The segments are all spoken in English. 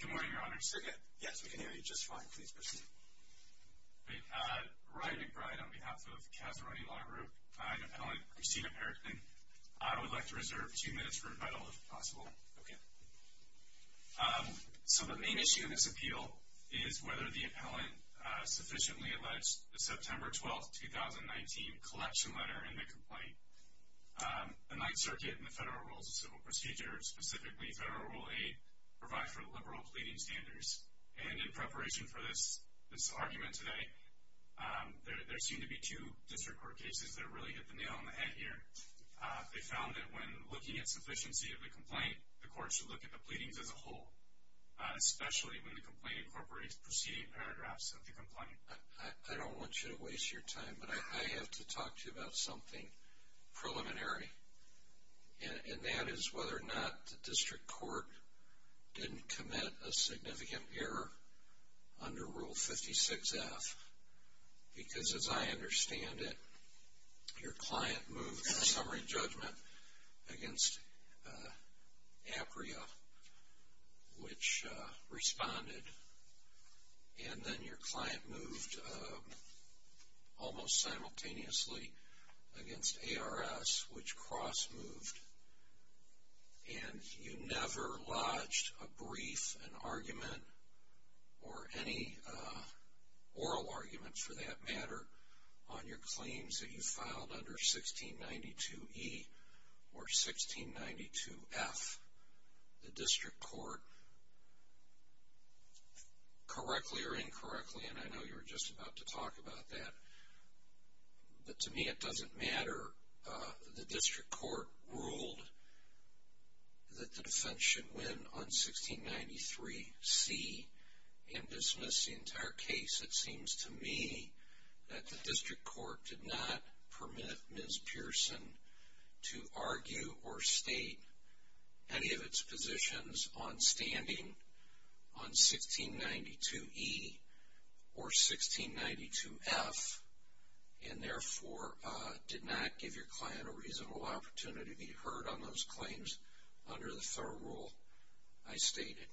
Good morning, Your Honor. Yes, we can hear you just fine. Please proceed. Ryan McBride on behalf of Casaroni Law Group. I'm an appellant, Christina Perrington. I would like to reserve two minutes for rebuttal, if possible. Okay. So the main issue in this appeal is whether the appellant sufficiently alleged the September 12, 2019 collection letter in the complaint. The Ninth Circuit and the Federal Rules of Civil Procedure, specifically Federal Rule 8, provide for liberal pleading standards. And in preparation for this argument today, there seem to be two district court cases that really hit the nail on the head here. They found that when looking at sufficiency of the complaint, the court should look at the pleadings as a whole, especially when the complaint incorporates preceding paragraphs of the complaint. I don't want you to waste your time, but I have to talk to you about something preliminary. And that is whether or not the district court didn't commit a significant error under Rule 56F. Because as I understand it, your client moved the summary judgment against Apria, which responded. And then your client moved almost simultaneously against ARS, which cross-moved. And you never lodged a brief, an argument, or any oral argument for that matter, on your claims that you filed under 1692E or 1692F. The district court, correctly or incorrectly, and I know you were just about to talk about that, but to me it doesn't matter. The district court ruled that the defense should win on 1693C and dismiss the entire case. It seems to me that the district court did not permit Ms. Pearson to argue or state any of its positions on standing on 1692E or 1692F, and therefore did not give your client a reasonable opportunity to be heard on those claims under the federal rule I stated.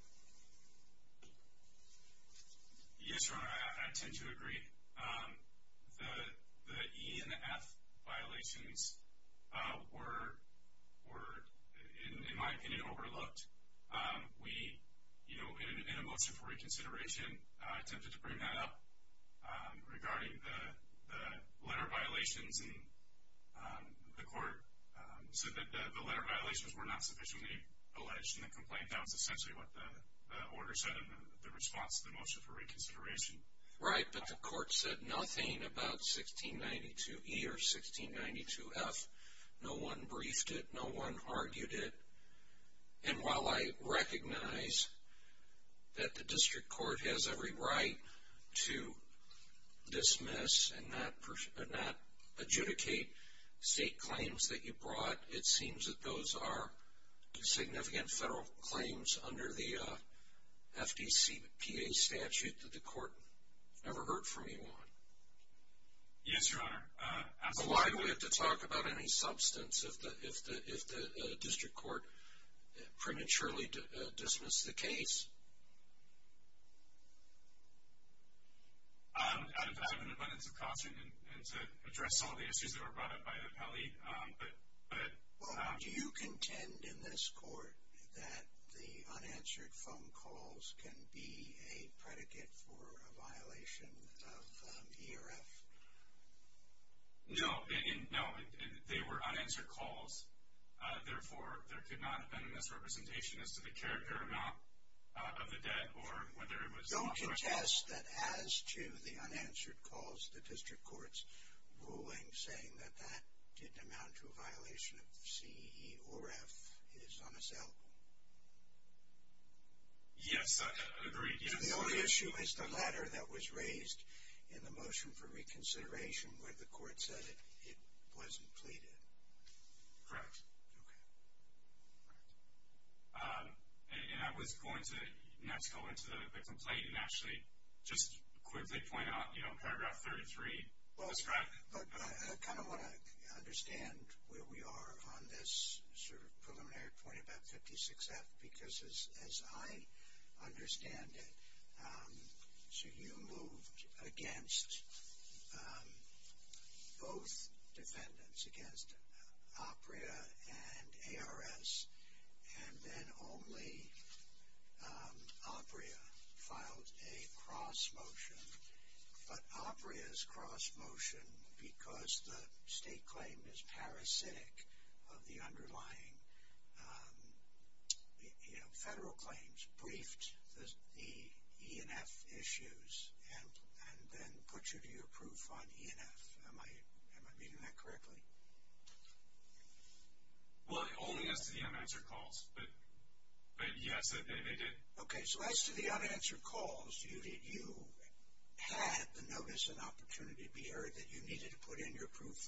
Yes, Your Honor, I tend to agree. The E and the F violations were, in my opinion, overlooked. We, in a motion for reconsideration, attempted to bring that up. Regarding the letter violations, the court said that the letter violations were not sufficiently alleged in the complaint. I think that was essentially what the order said in the response to the motion for reconsideration. Right, but the court said nothing about 1692E or 1692F. No one briefed it. No one argued it. And while I recognize that the district court has every right to dismiss and not adjudicate state claims that you brought, it seems that those are significant federal claims under the FDCPA statute that the court never heard from anyone. Yes, Your Honor, absolutely. So why do we have to talk about any substance if the district court prematurely dismissed the case? I have an abundance of caution to address all the issues that were brought up by the appellee. Well, do you contend in this court that the unanswered phone calls can be a predicate for a violation of ERF? No, they were unanswered calls. Therefore, there could not have been a misrepresentation as to the character or amount of the debt or whether it was- Don't contest that as to the unanswered calls, the district court's ruling saying that that didn't amount to a violation of C or F is unacceptable. Yes, I agree. The only issue is the letter that was raised in the motion for reconsideration where the court said it wasn't pleaded. Correct. Okay. And I was going to next go into the complaint and actually just quickly point out, you know, paragraph 33. Well, I kind of want to understand where we are on this sort of preliminary point about 56F because as I understand it, so you moved against both defendants, against APRIA and ARS, and then only APRIA filed a cross motion. But APRIA's cross motion, because the state claim is parasitic of the underlying federal claims, briefed the ENF issues and then put you to your proof on ENF. Am I reading that correctly? Well, only as to the unanswered calls, but yes, they did. Okay, so as to the unanswered calls, you had the notice and opportunity to be heard that you needed to put in your proof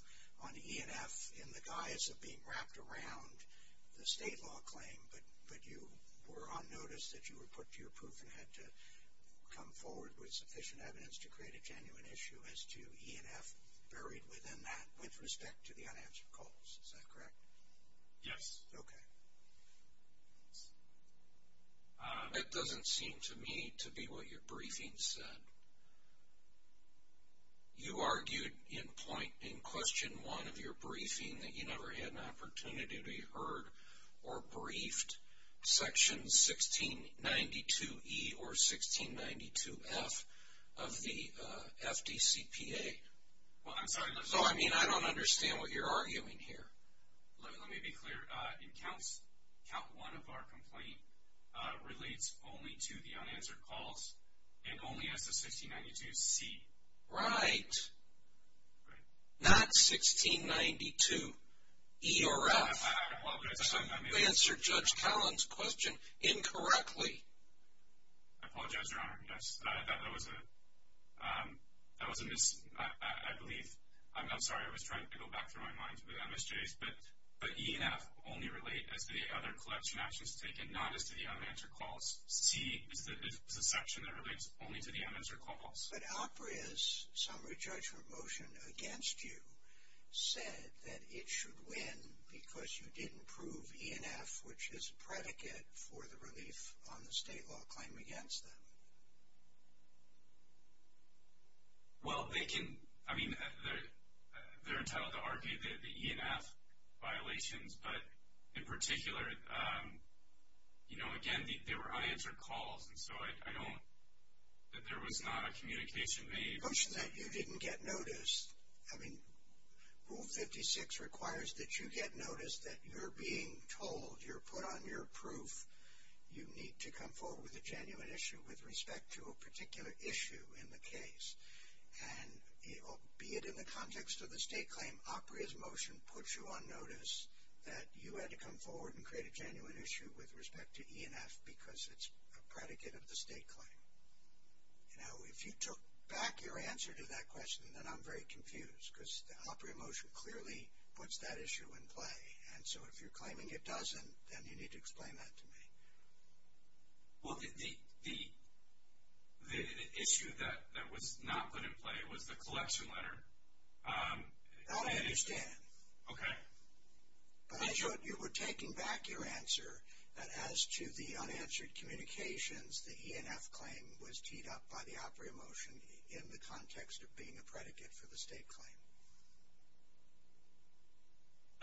on ENF in the guise of being wrapped around the state law claim, but you were on notice that you were put to your proof and had to come forward with sufficient evidence to create a genuine issue as to ENF buried within that with respect to the unanswered calls. Is that correct? Yes. Okay. It doesn't seem to me to be what your briefing said. You argued in question one of your briefing that you never had an opportunity to be heard or briefed section 1692E or 1692F of the FDCPA. Well, I'm sorry. No, I mean I don't understand what you're arguing here. Let me be clear. In counts, count one of our complaint relates only to the unanswered calls and only as to 1692C. Right. Not 1692E or F. I apologize. You answered Judge Callan's question incorrectly. I apologize, Your Honor. Yes, that was a mis- I believe. I'm sorry. I was trying to go back through my mind to the MSJs. But ENF only relate as to the other collection actions taken, not as to the unanswered calls. 1692C is a section that relates only to the unanswered calls. But Alperia's summary judgment motion against you said that it should win because you didn't prove ENF, which is a predicate for the relief on the state law claim against them. Well, they can- I mean, they're entitled to argue the ENF violations. But in particular, you know, again, they were unanswered calls. And so I don't- that there was not a communication made. The question is that you didn't get noticed. I mean, Rule 56 requires that you get noticed, that you're being told, you're put on your proof, you need to come forward with a genuine issue with respect to a particular issue in the case. And be it in the context of the state claim, Alperia's motion puts you on notice that you had to come forward and create a genuine issue with respect to ENF because it's a predicate of the state claim. Now, if you took back your answer to that question, then I'm very confused because the Alperia motion clearly puts that issue in play. And so if you're claiming it doesn't, then you need to explain that to me. Well, the issue that was not put in play was the collection letter. That I understand. Okay. But you were taking back your answer that as to the unanswered communications, the ENF claim was teed up by the Alperia motion in the context of being a predicate for the state claim.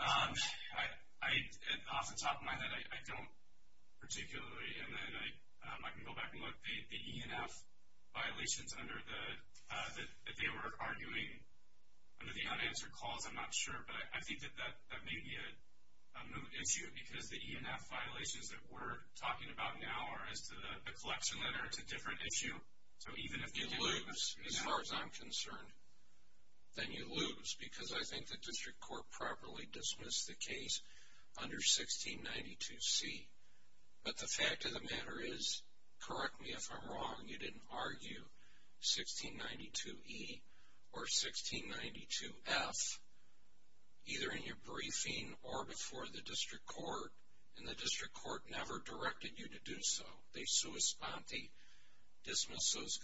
Off the top of my head, I don't particularly. And then I can go back and look. The ENF violations under the- that they were arguing under the unanswered calls, I'm not sure. But I think that that may be a moot issue because the ENF violations that we're talking about now are as to the collection letter. It's a different issue. So even if- You lose, as far as I'm concerned. Then you lose because I think the district court properly dismissed the case under 1692C. But the fact of the matter is, correct me if I'm wrong, you didn't argue 1692E or 1692F either in your briefing or before the district court. And the district court never directed you to do so. They sua sponte. Dismiss those-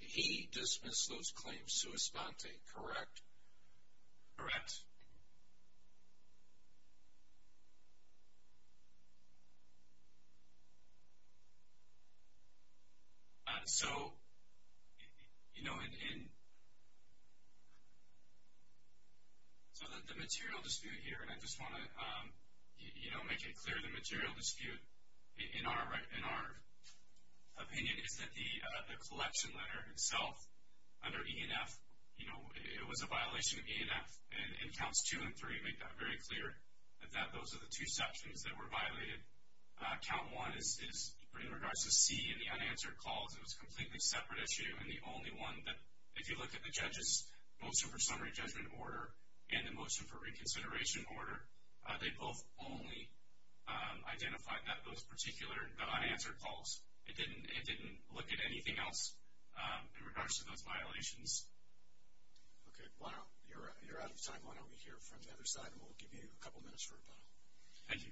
he dismissed those claims sua sponte, correct? Correct. So, you know, in- so the material dispute here, and I just want to, you know, make it clear the material dispute in our opinion, is that the collection letter itself under ENF, you know, it was a violation of ENF. And Counts 2 and 3 make that very clear, that those are the two sections that were violated. Count 1 is in regards to C and the unanswered calls. It was a completely separate issue and the only one that, if you look at the judge's motion for summary judgment order and the motion for reconsideration order, they both only identified those particular unanswered calls. It didn't look at anything else in regards to those violations. Okay, well, you're out of time. Why don't we hear from the other side, and we'll give you a couple minutes for rebuttal. Thank you.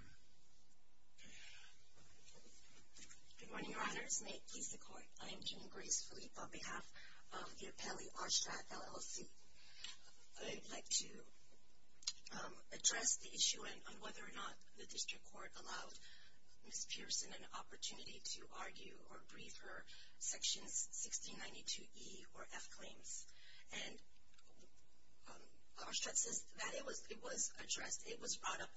Good morning, Your Honors. May it please the Court. I am Jean Grace Philippe on behalf of the appellee, Arstrad LLC. I'd like to address the issue on whether or not the district court allowed Ms. Pearson an opportunity to argue or brief her sections 1692E or F claims. And Arstrad says that it was addressed. It was brought up.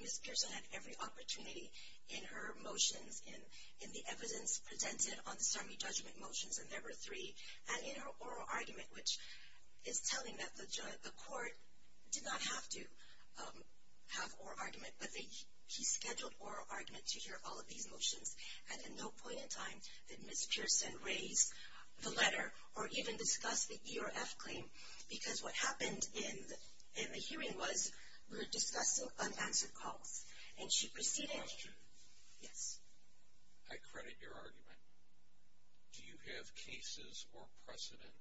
Ms. Pearson had every opportunity in her motions, in the evidence presented on the summary judgment motions, and there were three, and in her oral argument, which is telling that the court did not have to have oral argument, but he scheduled oral argument to hear all of these motions. And at no point in time did Ms. Pearson raise the letter or even discuss the E or F claim, because what happened in the hearing was we were discussing unanswered calls, and she proceeded. I credit your argument. Do you have cases or precedent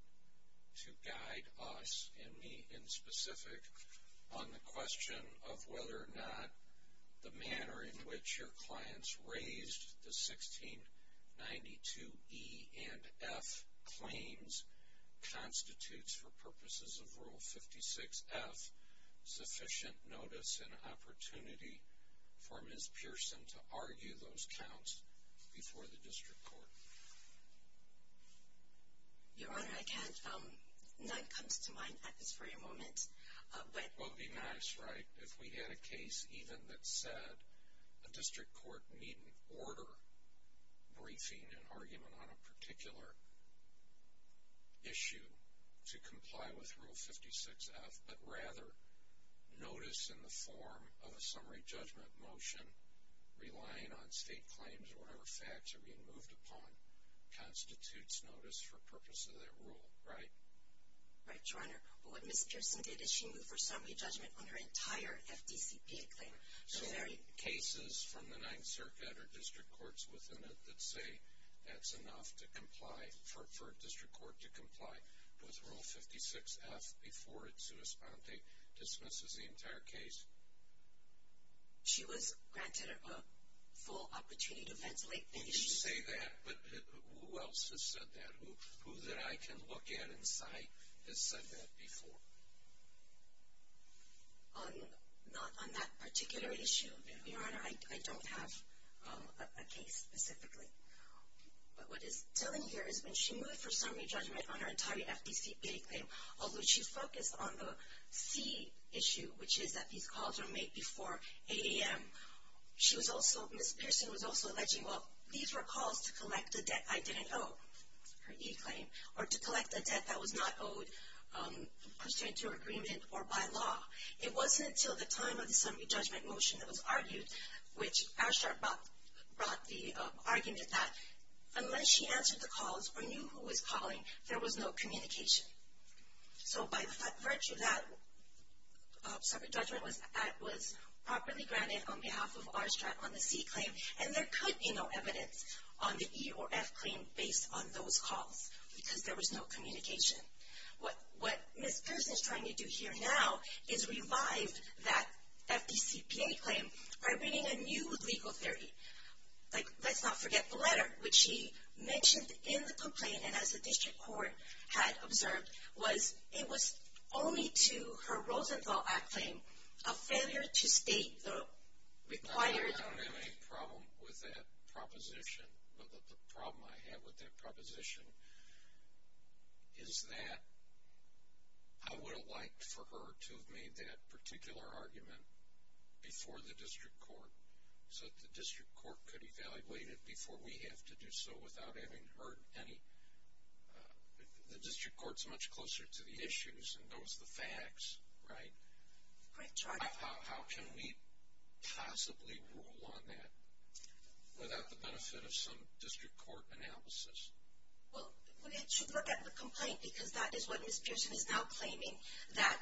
to guide us and me in specific on the question of whether or not the manner in which your clients raised the 1692E and F claims constitutes, for purposes of Rule 56F, sufficient notice and opportunity for Ms. Pearson to argue those counts before the district court? Your Honor, I can't. None comes to mind at this very moment. Well, it would be nice, right, if we had a case even that said, a district court needn't order briefing and argument on a particular issue to comply with Rule 56F, but rather notice in the form of a summary judgment motion, relying on state claims or whatever facts are being moved upon, constitutes notice for purposes of that rule, right? Right, Your Honor. But what Ms. Pearson did is she moved her summary judgment on her entire FDCPA claim. So cases from the Ninth Circuit or district courts within it that say that's enough to comply, for a district court to comply with Rule 56F before its corresponding dismisses the entire case. She was granted a full opportunity to ventilate the issue. And you say that, but who else has said that? Who that I can look at and cite has said that before? Not on that particular issue, Your Honor. I don't have a case specifically. But what is telling here is when she moved her summary judgment on her entire FDCPA claim, although she focused on the C issue, which is that these calls were made before 8 a.m., she was also, Ms. Pearson was also alleging, well, these were calls to collect the debt I didn't owe, her E claim, or to collect the debt that was not owed pursuant to her agreement or by law. It wasn't until the time of the summary judgment motion that was argued, which Aarstradt brought the argument that unless she answered the calls or knew who was calling, there was no communication. So by virtue of that, summary judgment was properly granted on behalf of Aarstadt on the C claim, and there could be no evidence on the E or F claim based on those calls because there was no communication. What Ms. Pearson is trying to do here now is revive that FDCPA claim by bringing a new legal theory. Like, let's not forget the letter, which she mentioned in the complaint, and as the district court had observed, was it was only to her Rosenthal Act claim, a failure to state the required. I don't have any problem with that proposition, but the problem I have with that proposition is that I would have liked for her to have made that particular argument before the district court so that the district court could evaluate it before we have to do so without having heard any. The district court is much closer to the issues and knows the facts, right? How can we possibly rule on that without the benefit of some district court analysis? Well, we should look at the complaint because that is what Ms. Pearson is now claiming, that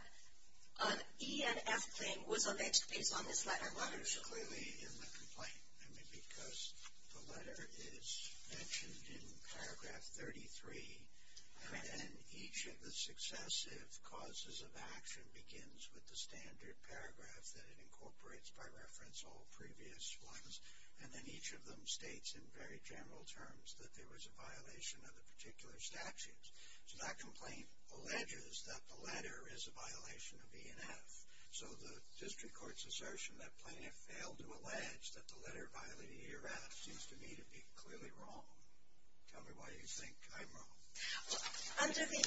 an E and F claim was alleged based on this letter, wasn't it? It's clearly in the complaint. I mean, because the letter is mentioned in paragraph 33, and each of the successive causes of action begins with the standard paragraph that it incorporates by reference to all previous ones, and then each of them states in very general terms that there was a violation of the particular statutes. So that complaint alleges that the letter is a violation of E and F. So the district court's assertion that Plaintiff failed to allege that the letter violated E or F seems to me to be clearly wrong. Tell me why you think I'm wrong. Under the,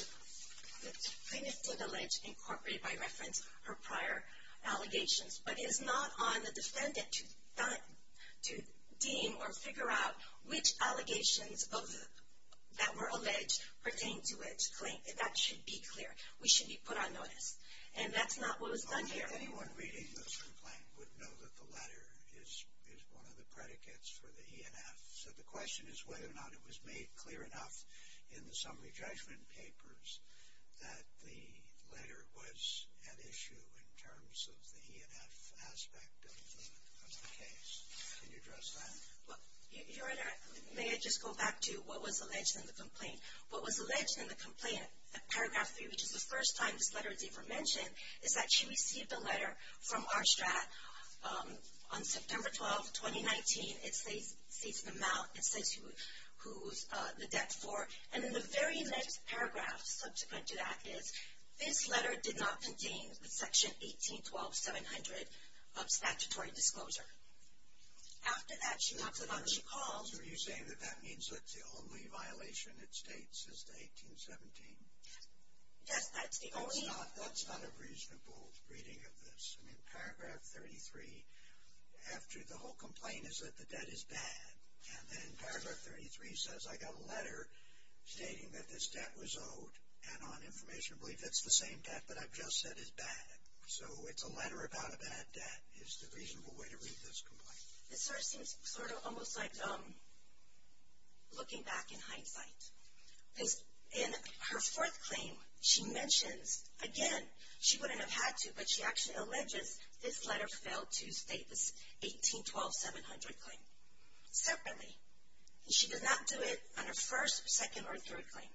Plaintiff did allege incorporate by reference her prior allegations, but it is not on the defendant to deem or figure out which allegations that were alleged pertain to its claim. That should be clear. We should be put on notice, and that's not what was done here. Anyone reading this complaint would know that the letter is one of the predicates for the E and F. So the question is whether or not it was made clear enough in the summary judgment papers that the letter was an issue in terms of the E and F aspect of the case. Can you address that? Well, Your Honor, may I just go back to what was alleged in the complaint? What was alleged in the complaint at paragraph 3, which is the first time this letter is even mentioned, is that she received a letter from our strat on September 12, 2019. It states the amount. It says who the debt's for. And in the very next paragraph subsequent to that is, this letter did not contain the section 18.12.700 of statutory disclosure. After that, she knocks it off. She calls. Are you saying that that means that's the only violation it states, is the 18.17? Yes, that's the only. That's not a reasonable reading of this. I mean, paragraph 33, after the whole complaint is that the debt is bad, and then paragraph 33 says I got a letter stating that this debt was owed, and on information I believe that's the same debt, but I've just said is bad. So it's a letter about a bad debt is the reasonable way to read this complaint. This sort of seems sort of almost like looking back in hindsight. In her fourth claim, she mentions, again, she wouldn't have had to, but she actually alleges this letter failed to state this 18.12.700 claim separately. And she does not do it on her first, second, or third claim.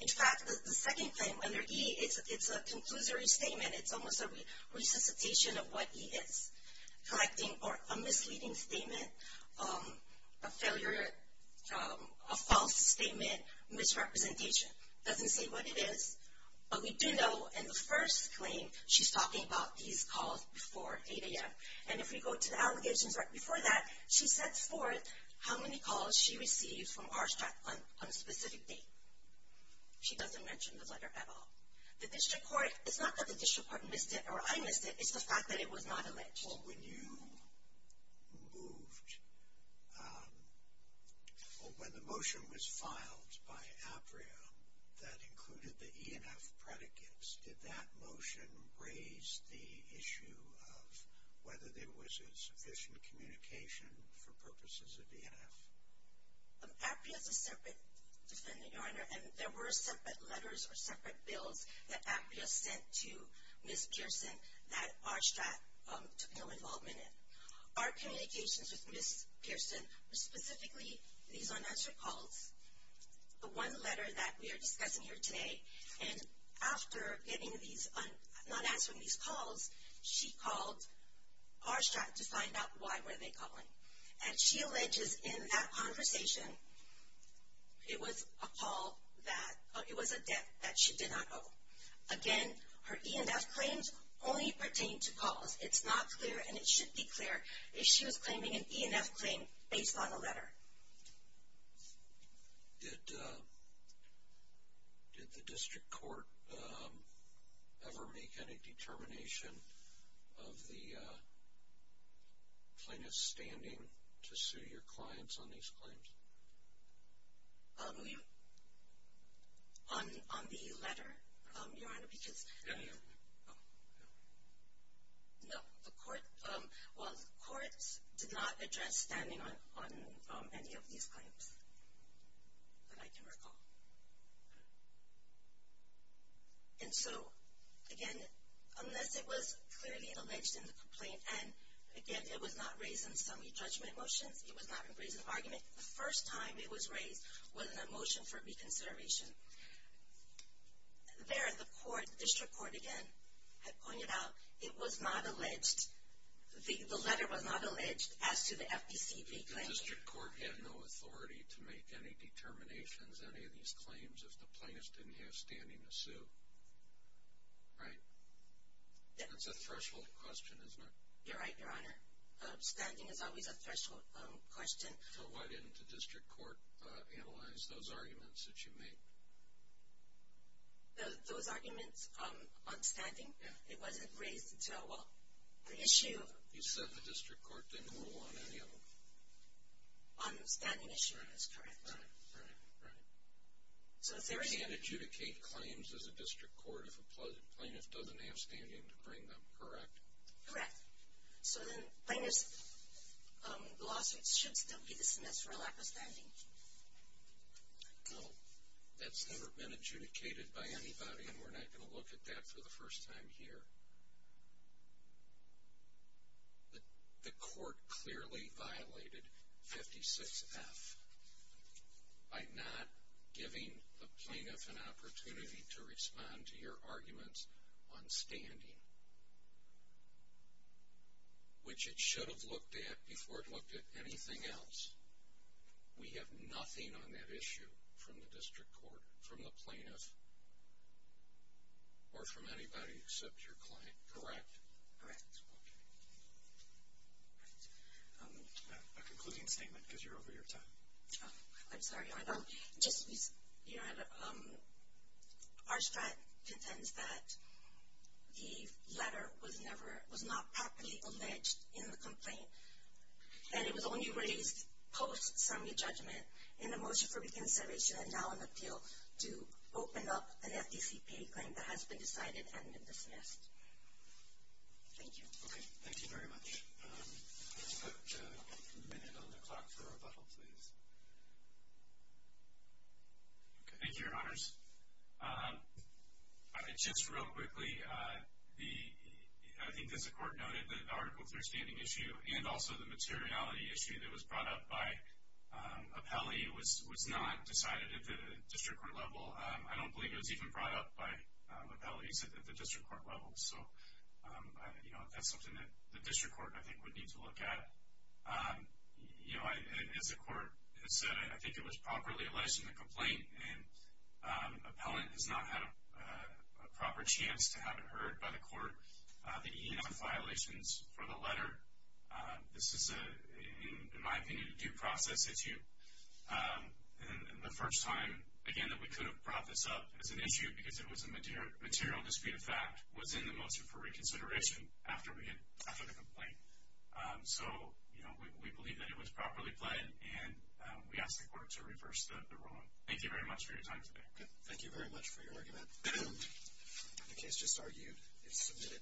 In fact, the second claim under E, it's a conclusory statement. It's almost a resuscitation of what E is, a misleading statement, a failure, a false statement, misrepresentation. It doesn't say what it is. But we do know in the first claim, she's talking about these calls before 8 a.m. And if we go to the allegations right before that, she sets forth how many calls she received from Arshtrack on a specific date. She doesn't mention the letter at all. The district court, it's not that the district court missed it or I missed it, it's the fact that it was not alleged. When the motion was filed by APRIA that included the ENF predicates, did that motion raise the issue of whether there was sufficient communication for purposes of ENF? APRIA is a separate defendant, Your Honor, and there were separate letters or separate bills that APRIA sent to Ms. Kiersten that Arshtrack took no involvement in. Our communications with Ms. Kiersten were specifically these unanswered calls. The one letter that we are discussing here today, and after not answering these calls, she called Arshtrack to find out why were they calling. And she alleges in that conversation, it was a call that, it was a debt that she did not owe. Again, her ENF claims only pertain to calls. It's not clear and it should be clear if she was claiming an ENF claim based on a letter. Did the district court ever make any determination of the plaintiff's standing to sue your clients on these claims? On the letter, Your Honor, because, no, the court, well, the courts did not address standing on any of these claims that I can recall. And so, again, unless it was clearly alleged in the complaint, and again, it was not raised in summary judgment motions, it was not raised in argument. The first time it was raised was in a motion for reconsideration. There, the court, district court, again, had pointed out it was not alleged, the letter was not alleged as to the FPCB claim. The district court had no authority to make any determinations on any of these claims if the plaintiff didn't have standing to sue, right? That's a threshold question, isn't it? You're right, Your Honor. Standing is always a threshold question. So why didn't the district court analyze those arguments that you made? Those arguments on standing? Yeah. It wasn't raised until, well, the issue of them. You said the district court didn't rule on any of them. On the standing issue, that's correct. Right, right, right. So if there is a- You can't adjudicate claims as a district court if a plaintiff doesn't have standing to bring them, correct? Correct. So then plaintiff's lawsuits should still be dismissed for a lack of standing? No. That's never been adjudicated by anybody, and we're not going to look at that for the first time here. The court clearly violated 56F by not giving the plaintiff an opportunity to respond to your arguments on standing, which it should have looked at before it looked at anything else. We have nothing on that issue from the district court, from the plaintiff, or from anybody except your client, correct? Correct. Okay. A concluding statement, because you're over your time. I'm sorry. Arshtrat contends that the letter was not properly alleged in the complaint, and it was only raised post-summary judgment in the motion for reconsideration and now an appeal to open up an FDCPA claim that has been decided and been dismissed. Thank you. Okay. Thank you very much. We've got a minute on the clock for rebuttal, please. Thank you, Your Honors. Just real quickly, I think as the court noted, the article 3 standing issue and also the materiality issue that was brought up by Apelli was not decided at the district court level. I don't believe it was even brought up by Apelli at the district court level, so that's something that the district court, I think, would need to look at. As the court has said, I think it was properly alleged in the complaint, and Appellant has not had a proper chance to have it heard by the court. The E&F violations for the letter, this is, in my opinion, a due process issue. And the first time, again, that we could have brought this up as an issue because it was a material dispute of fact was in the motion for reconsideration after the complaint. So we believe that it was properly pled, and we ask the court to reverse the ruling. Thank you very much for your time today. Okay. Thank you very much for your argument. The case just argued is submitted.